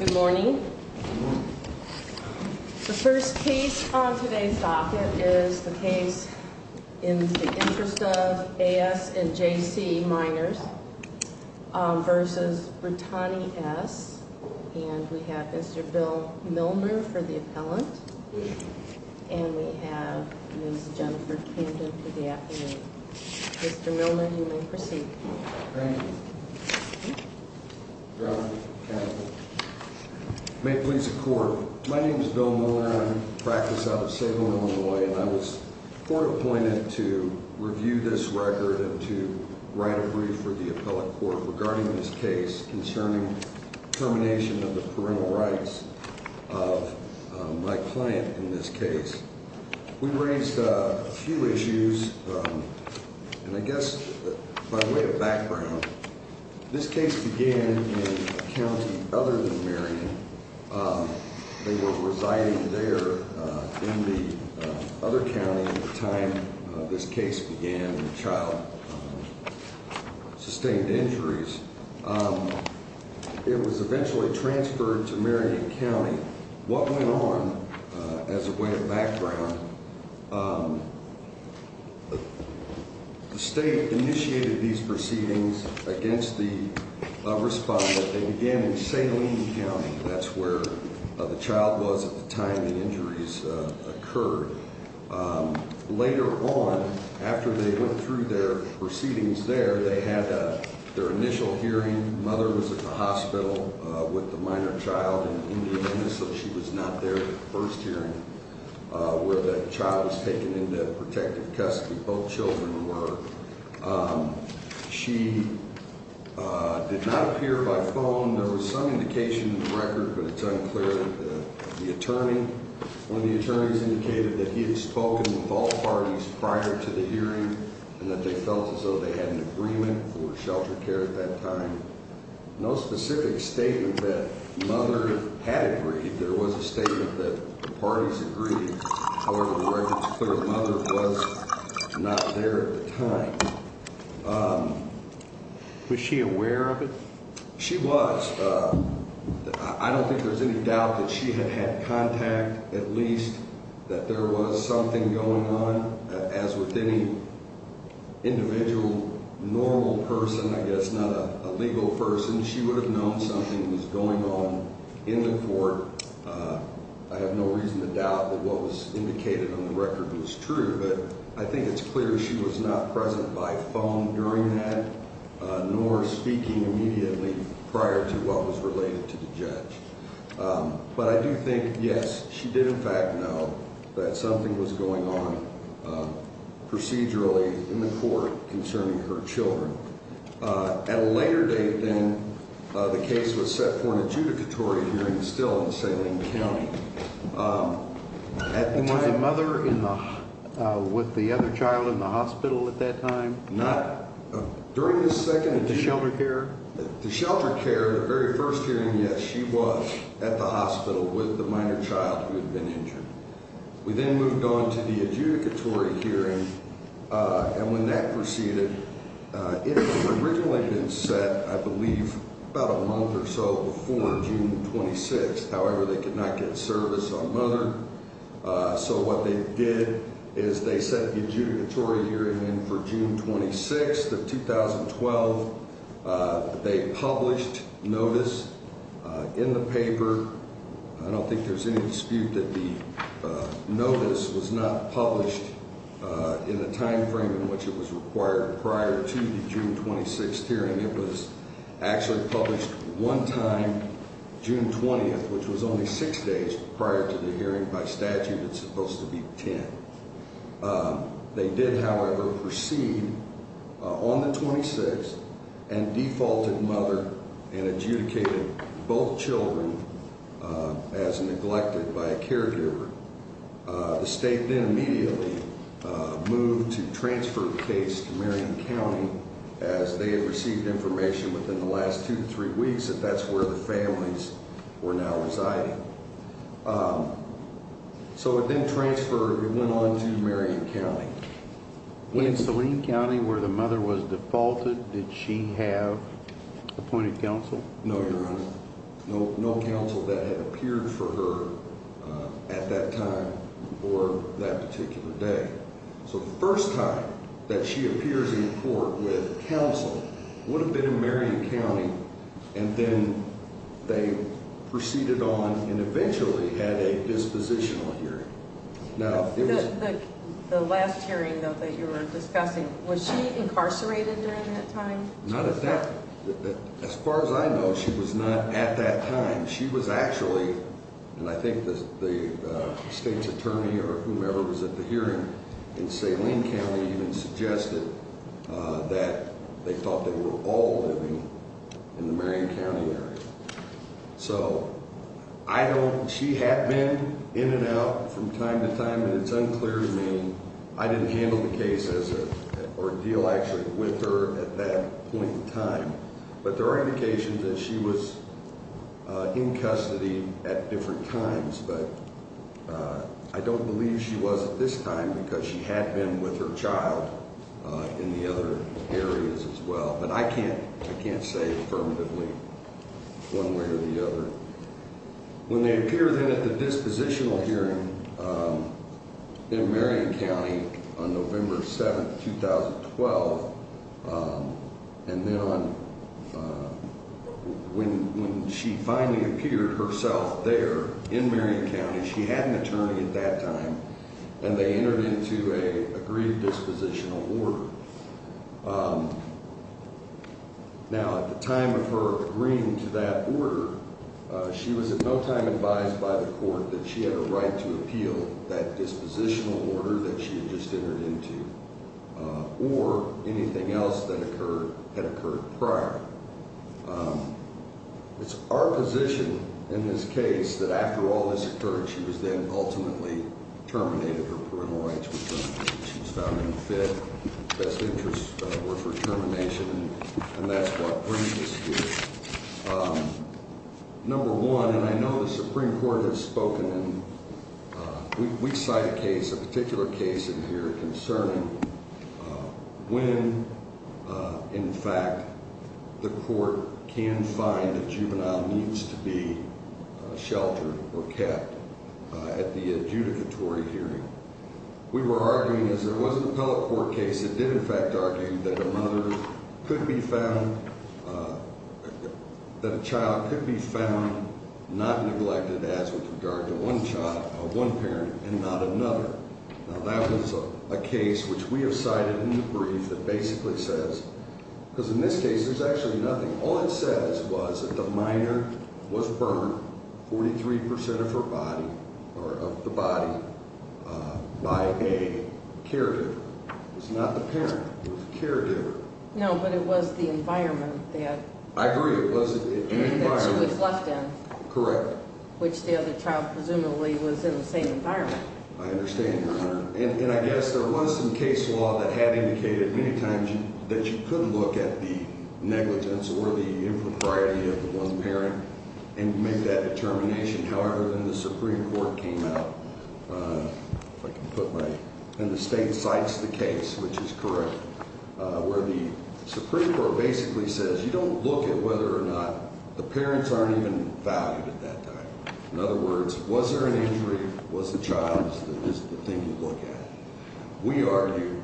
Good morning. The first case on today's docket is the case in the interest of A.S. and J.C. minors versus Brittani S. And we have Mr. Bill Milner for the appellant. And we have Ms. Jennifer Camden for the applicant. Mr. Milner, you may proceed. Thank you. May it please the court. My name is Bill Milner. I practice out of Salem, Illinois. And I was court appointed to review this record and to write a brief for the appellate court regarding this case concerning termination of the parental rights of my client in this case. We raised a few issues, and I guess by way of background, this case began in a county other than Marion. They were residing there in the other county at the time this case began and the child sustained injuries. It was eventually transferred to Marion County. What went on, as a way of background, the state initiated these proceedings against the respondent. They began in Salem County. That's where the child was at the time the injuries occurred. Later on, after they went through their proceedings there, they had their initial hearing. Mother was at the hospital with the minor child in Indianapolis, so she was not there at the first hearing where that child was taken into protective custody. Both children were. She did not appear by phone. There was some indication in the record, but it's unclear. The attorney, one of the attorneys, indicated that he had spoken with all parties prior to the hearing and that they felt as though they had an agreement for shelter care at that time. No specific statement that Mother had agreed. There was a statement that the parties agreed. However, the record was clear that Mother was not there at the time. Was she aware of it? She was. I don't think there's any doubt that she had had contact, at least that there was something going on. As with any individual, normal person, I guess not a legal person, she would have known something was going on in the court. I have no reason to doubt that what was indicated on the record was true. But I think it's clear she was not present by phone during that, nor speaking immediately prior to what was related to the judge. But I do think, yes, she did in fact know that something was going on procedurally in the court concerning her children. At a later date, then, the case was set for an adjudicatory hearing still in Salem County. And was the mother with the other child in the hospital at that time? No. During the second adjudication? The shelter care? The shelter care, the very first hearing, yes, she was at the hospital with the minor child who had been injured. We then moved on to the adjudicatory hearing, and when that proceeded, it had originally been set, I believe, about a month or so before June 26th. However, they could not get service on mother, so what they did is they set the adjudicatory hearing in for June 26th of 2012. They published notice in the paper. I don't think there's any dispute that the notice was not published in the timeframe in which it was required prior to the June 26th hearing. It was actually published one time, June 20th, which was only six days prior to the hearing. By statute, it's supposed to be ten. They did, however, proceed on the 26th and defaulted mother and adjudicated both children as neglected by a caregiver. The state then immediately moved to transfer the case to Marion County as they had received information within the last two to three weeks that that's where the families were now residing. So it then transferred and went on to Marion County. In Saline County, where the mother was defaulted, did she have appointed counsel? No, Your Honor. No counsel that had appeared for her at that time or that particular day. So the first time that she appears in court with counsel would have been in Marion County, and then they proceeded on and eventually had a dispositional hearing. The last hearing, though, that you were discussing, was she incarcerated during that time? As far as I know, she was not at that time. She was actually, and I think the state's attorney or whomever was at the hearing in Saline County even suggested that they thought they were all living in the Marion County area. So she had been in and out from time to time, and it's unclear to me. I didn't handle the case or deal actually with her at that point in time, but there are indications that she was in custody at different times. But I don't believe she was at this time because she had been with her child in the other areas as well. But I can't say affirmatively one way or the other. When they appear then at the dispositional hearing in Marion County on November 7, 2012, and then when she finally appeared herself there in Marion County, she had an attorney at that time, and they entered into an agreed dispositional order. Now, at the time of her agreeing to that order, she was at no time advised by the court that she had a right to appeal that dispositional order that she had just entered into or anything else that had occurred prior. It's our position in this case that after all this occurred, she was then ultimately terminated for parental rights, which she was found unfit. Best interests were for termination, and that's what brings us here. Number one, and I know the Supreme Court has spoken, and we cite a case, a particular case in here concerning when, in fact, the court can find a juvenile needs to be sheltered or kept at the adjudicatory hearing. We were arguing, as there was an appellate court case that did, in fact, argue that a mother could be found, that a child could be found not neglected as with regard to one parent and not another. Now, that was a case which we have cited in the brief that basically says, because in this case, there's actually nothing. All it says was that the minor was burned, 43% of her body or of the body, by a caregiver. It was not the parent. It was the caregiver. No, but it was the environment that- I agree. It was an environment- That she was left in. Correct. Which the other child presumably was in the same environment. I understand, Your Honor. And I guess there was some case law that had indicated many times that you could look at the negligence or the impropriety of the one parent and make that determination. However, then the Supreme Court came out, if I can put my- and the state cites the case, which is correct, where the Supreme Court basically says you don't look at whether or not the parents aren't even valued at that time. In other words, was there an injury? Was the child the thing to look at? We argue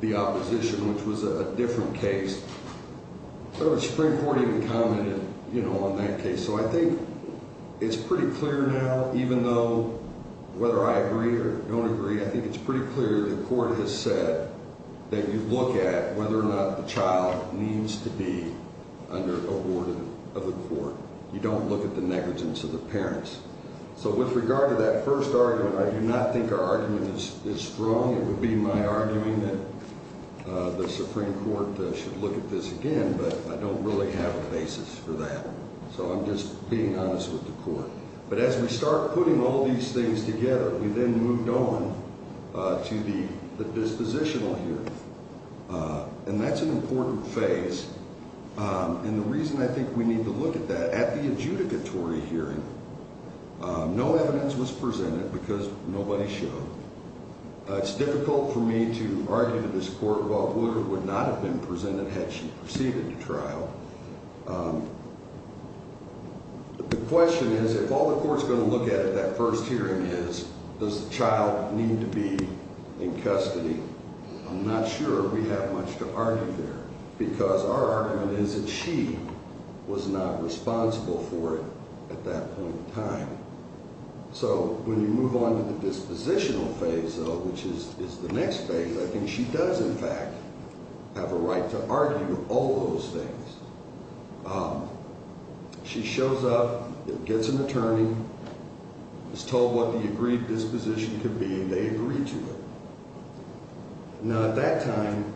the opposition, which was a different case. The Supreme Court even commented on that case. So I think it's pretty clear now, even though whether I agree or don't agree, I think it's pretty clear the court has said that you look at whether or not the child needs to be under a warden of the court. You don't look at the negligence of the parents. So with regard to that first argument, I do not think our argument is strong. It would be my arguing that the Supreme Court should look at this again, but I don't really have a basis for that. So I'm just being honest with the court. But as we start putting all these things together, we then moved on to the dispositional here. And that's an important phase. And the reason I think we need to look at that, at the adjudicatory hearing, no evidence was presented because nobody showed. It's difficult for me to argue to this court what would or would not have been presented had she proceeded to trial. The question is, if all the court's going to look at at that first hearing is, does the child need to be in custody, I'm not sure we have much to argue there. Because our argument is that she was not responsible for it at that point in time. So when you move on to the dispositional phase, though, which is the next phase, I think she does, in fact, have a right to argue all those things. She shows up, gets an attorney, is told what the agreed disposition could be, and they agree to it. Now, at that time,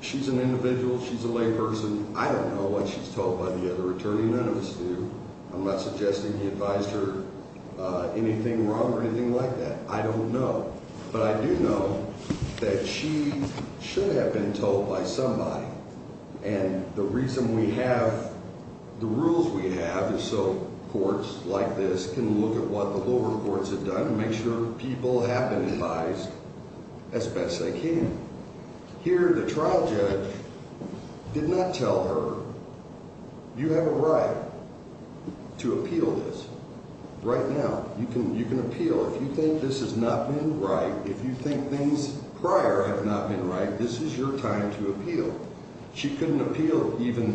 she's an individual. She's a layperson. I don't know what she's told by the other attorney. None of us do. I'm not suggesting he advised her anything wrong or anything like that. I don't know. But I do know that she should have been told by somebody. And the reason we have the rules we have is so courts like this can look at what the lower courts have done and make sure people have been advised as best they can. Here, the trial judge did not tell her, you have a right to appeal this right now. You can appeal. If you think this has not been right, if you think things prior have not been right, this is your time to appeal. She couldn't appeal even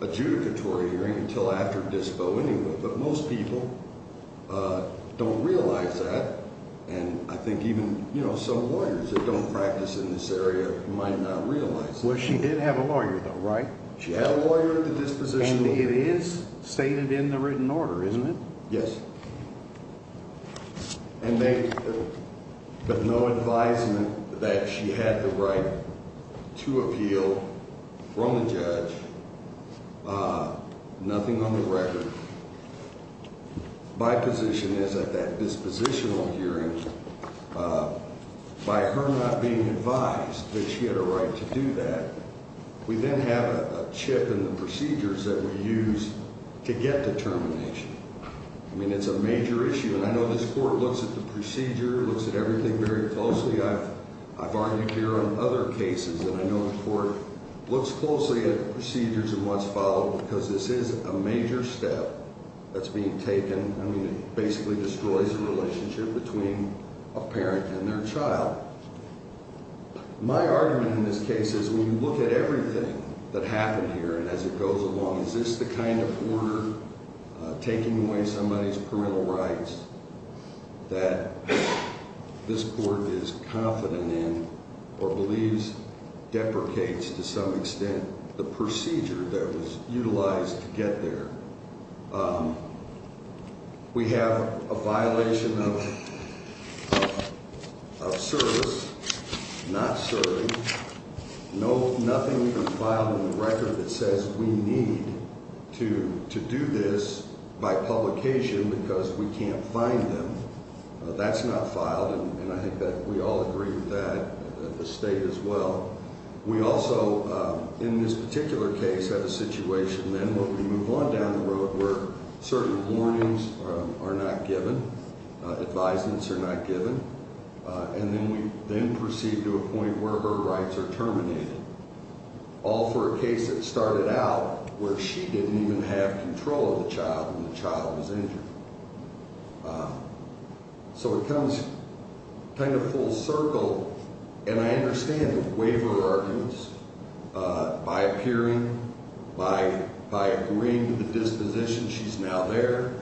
the adjudicatory hearing until after dispo anyway. But most people don't realize that. And I think even some lawyers that don't practice in this area might not realize that. Well, she did have a lawyer, though, right? She had a lawyer at the disposition. And it is stated in the written order, isn't it? Yes. And they have no advisement that she had the right to appeal from the judge. Nothing on the record. My position is that that dispositional hearing, by her not being advised that she had a right to do that, we then have a chip in the procedures that we use to get determination. I mean, it's a major issue. And I know this court looks at the procedure, looks at everything very closely. I've argued here on other cases, and I know the court looks closely at the procedures and what's followed because this is a major step that's being taken. I mean, it basically destroys the relationship between a parent and their child. My argument in this case is when you look at everything that happened here and as it goes along, is this the kind of order taking away somebody's parental rights that this court is confident in or believes deprecates to some extent the procedure that was utilized to get there? We have a violation of service, not serving. Nothing has been filed in the record that says we need to do this by publication because we can't find them. That's not filed, and I think that we all agree with that, the state as well. We also, in this particular case, have a situation then where we move on down the road where certain warnings are not given, advisements are not given. And then we then proceed to a point where her rights are terminated, all for a case that started out where she didn't even have control of the child and the child was injured. So it comes kind of full circle, and I understand the waiver arguments. By appearing, by agreeing to the disposition, she's now there.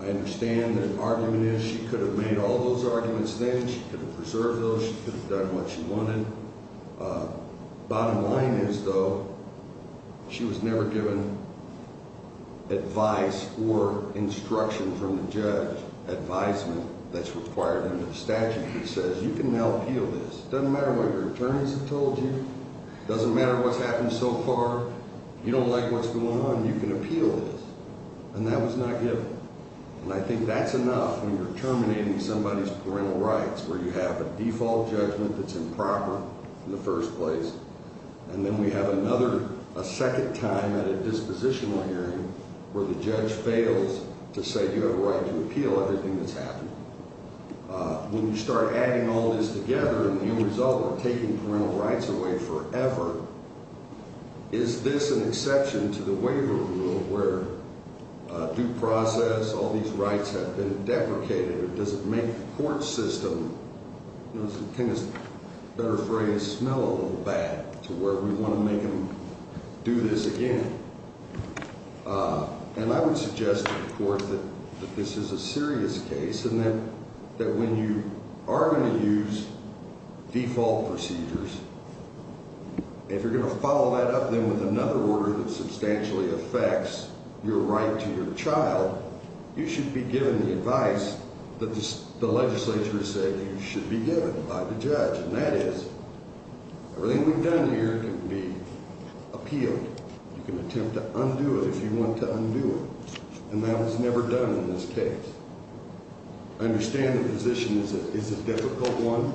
I understand that argument is she could have made all those arguments then. She could have preserved those. She could have done what she wanted. Bottom line is, though, she was never given advice or instruction from the judge, advisement that's required under the statute that says you can now appeal this. It doesn't matter what your attorneys have told you. It doesn't matter what's happened so far. You don't like what's going on. You can appeal this, and that was not given. And I think that's enough when you're terminating somebody's parental rights, where you have a default judgment that's improper in the first place. And then we have another, a second time at a dispositional hearing where the judge fails to say you have a right to appeal everything that's happened. When you start adding all this together, and the end result, we're taking parental rights away forever. Is this an exception to the waiver rule where due process, all these rights have been deprecated? Or does it make the court system, you know, it's a better phrase, smell a little bad to where we want to make them do this again? And I would suggest to the court that this is a serious case and that when you are going to use default procedures, if you're going to follow that up then with another order that substantially affects your right to your child, you should be given the advice that the legislature has said you should be given by the judge, and that is everything we've done here can be appealed. You can attempt to undo it if you want to undo it. And that was never done in this case. I understand the position is a difficult one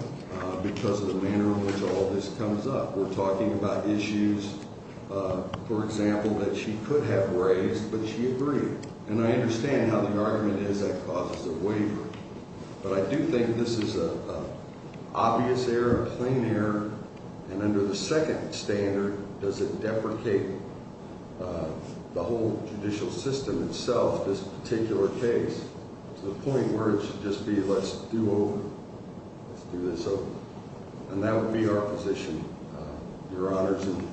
because of the manner in which all this comes up. We're talking about issues, for example, that she could have raised, but she agreed. And I understand how the argument is that causes a waiver. But I do think this is an obvious error, a plain error. And under the second standard, does it deprecate the whole judicial system itself, this particular case, to the point where it should just be let's do over, let's do this over. And that would be our position, Your Honors. And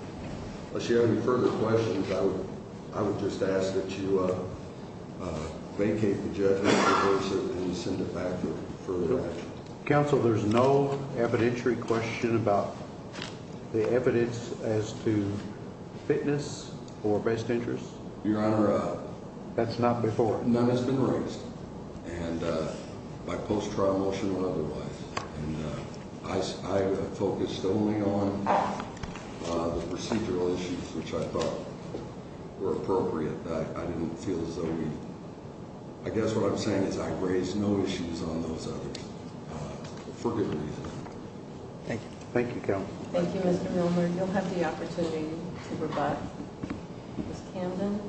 unless you have any further questions, I would just ask that you vacate the judgment and send it back for further action. Counsel, there's no evidentiary question about the evidence as to fitness or best interests? Your Honor, none has been raised by post-trial motion or otherwise. And I focused only on the procedural issues which I thought were appropriate. I didn't feel as though we, I guess what I'm saying is I raised no issues on those others for good reason. Thank you. Thank you, Counsel. Thank you, Mr. Milner. You'll have the opportunity to rebut Ms. Camden.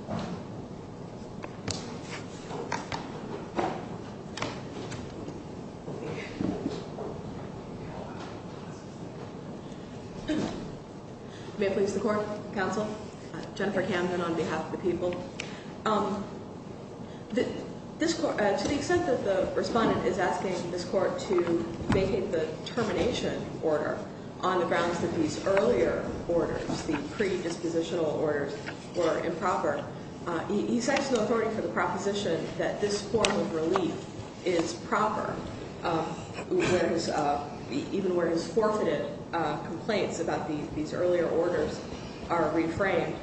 May it please the Court, Counsel, Jennifer Camden on behalf of the people. To the extent that the respondent is asking this Court to vacate the termination order on the grounds that these earlier orders, the predispositional orders were improper, he cites no authority for the proposition that this form of relief is proper even where his forfeited complaints about these earlier orders are reframed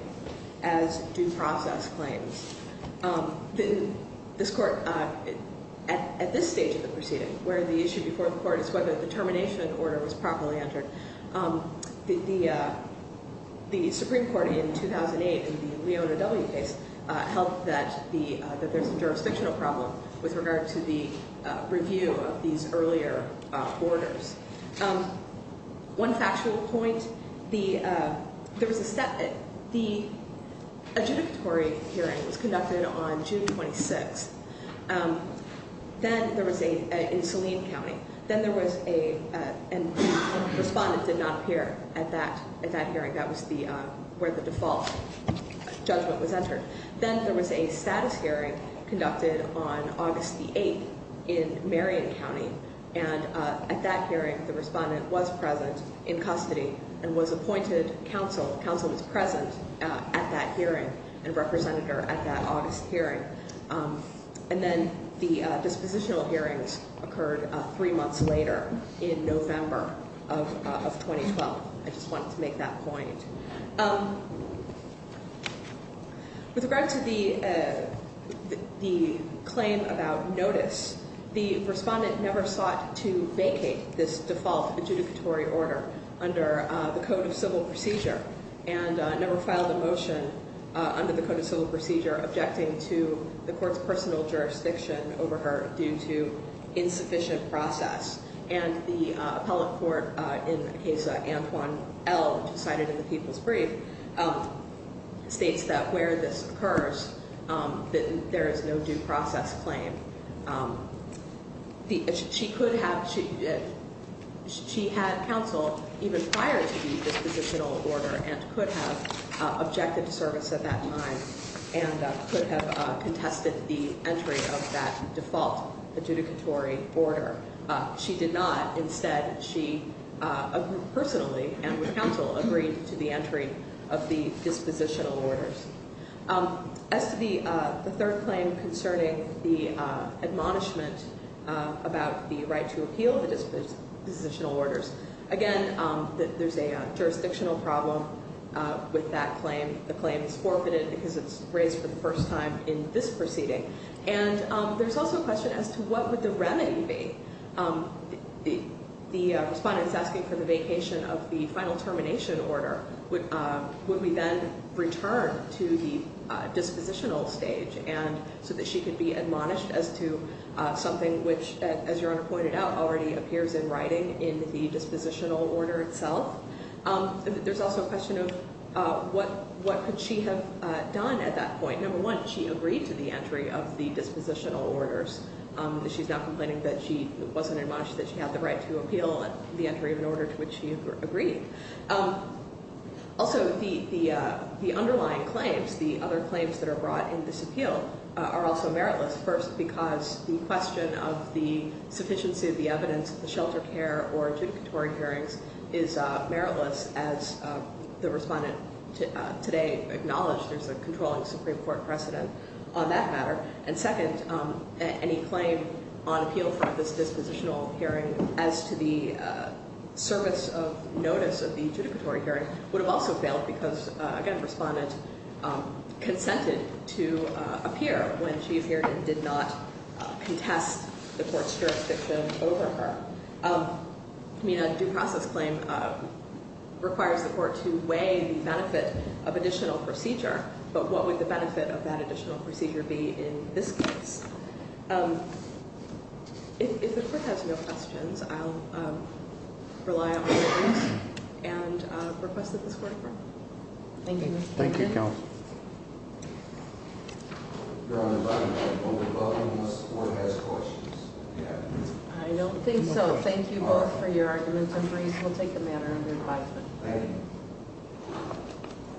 as due process claims. This Court, at this stage of the proceeding where the issue before the Court is whether the termination order was properly entered, the Supreme Court in 2008 in the Leona W case held that there's a jurisdictional problem with regard to the review of these earlier orders. One factual point, the adjudicatory hearing was conducted on June 26th. Then there was a, in Saline County. Then there was a, and the respondent did not appear at that hearing. That was the, where the default judgment was entered. Then there was a status hearing conducted on August the 8th in Marion County. And at that hearing, the respondent was present in custody and was appointed Counsel. Counsel was present at that hearing and represented her at that August hearing. And then the dispositional hearings occurred three months later in November of 2012. I just wanted to make that point. With regard to the claim about notice, the respondent never sought to vacate this default adjudicatory order under the Code of Civil Procedure and never filed a motion under the Code of Civil Procedure objecting to the Court's personal jurisdiction over her due to insufficient process. And the appellate court in the case of Antoine L., cited in the People's Brief, states that where this occurs, that there is no due process claim. She could have, she had counsel even prior to the dispositional order and could have objected to service at that time and could have contested the entry of that default adjudicatory order. She did not. Instead, she personally and with counsel agreed to the entry of the dispositional orders. As to the third claim concerning the admonishment about the right to appeal the dispositional orders, again, there's a jurisdictional problem with that claim. The claim is forfeited because it's raised for the first time in this proceeding. And there's also a question as to what would the remedy be? The respondent's asking for the vacation of the final termination order. Would we then return to the dispositional stage so that she could be admonished as to something which, as Your Honor pointed out, already appears in writing in the dispositional order itself? There's also a question of what could she have done at that point? Number one, she agreed to the entry of the dispositional orders. She's not complaining that she wasn't admonished, that she had the right to appeal the entry of an order to which she agreed. Also, the underlying claims, the other claims that are brought in this appeal, are also meritless. First, because the question of the sufficiency of the evidence at the shelter care or adjudicatory hearings is meritless as the respondent today acknowledged there's a controlling Supreme Court precedent on that matter. And second, any claim on appeal for this dispositional hearing as to the service of notice of the adjudicatory hearing would have also failed because, again, the respondent consented to appear when she appeared and did not contest the court's jurisdiction over her. I mean, a due process claim requires the court to weigh the benefit of additional procedure. But what would the benefit of that additional procedure be in this case? If the court has no questions, I'll rely on it and request that this court adjourn. Thank you, Mr. Chairman. Thank you, Counsel. Your Honor, by no means will we welcome this court has questions. I don't think so. Thank you both for your arguments and briefs. We'll take a matter under advisement. Thank you.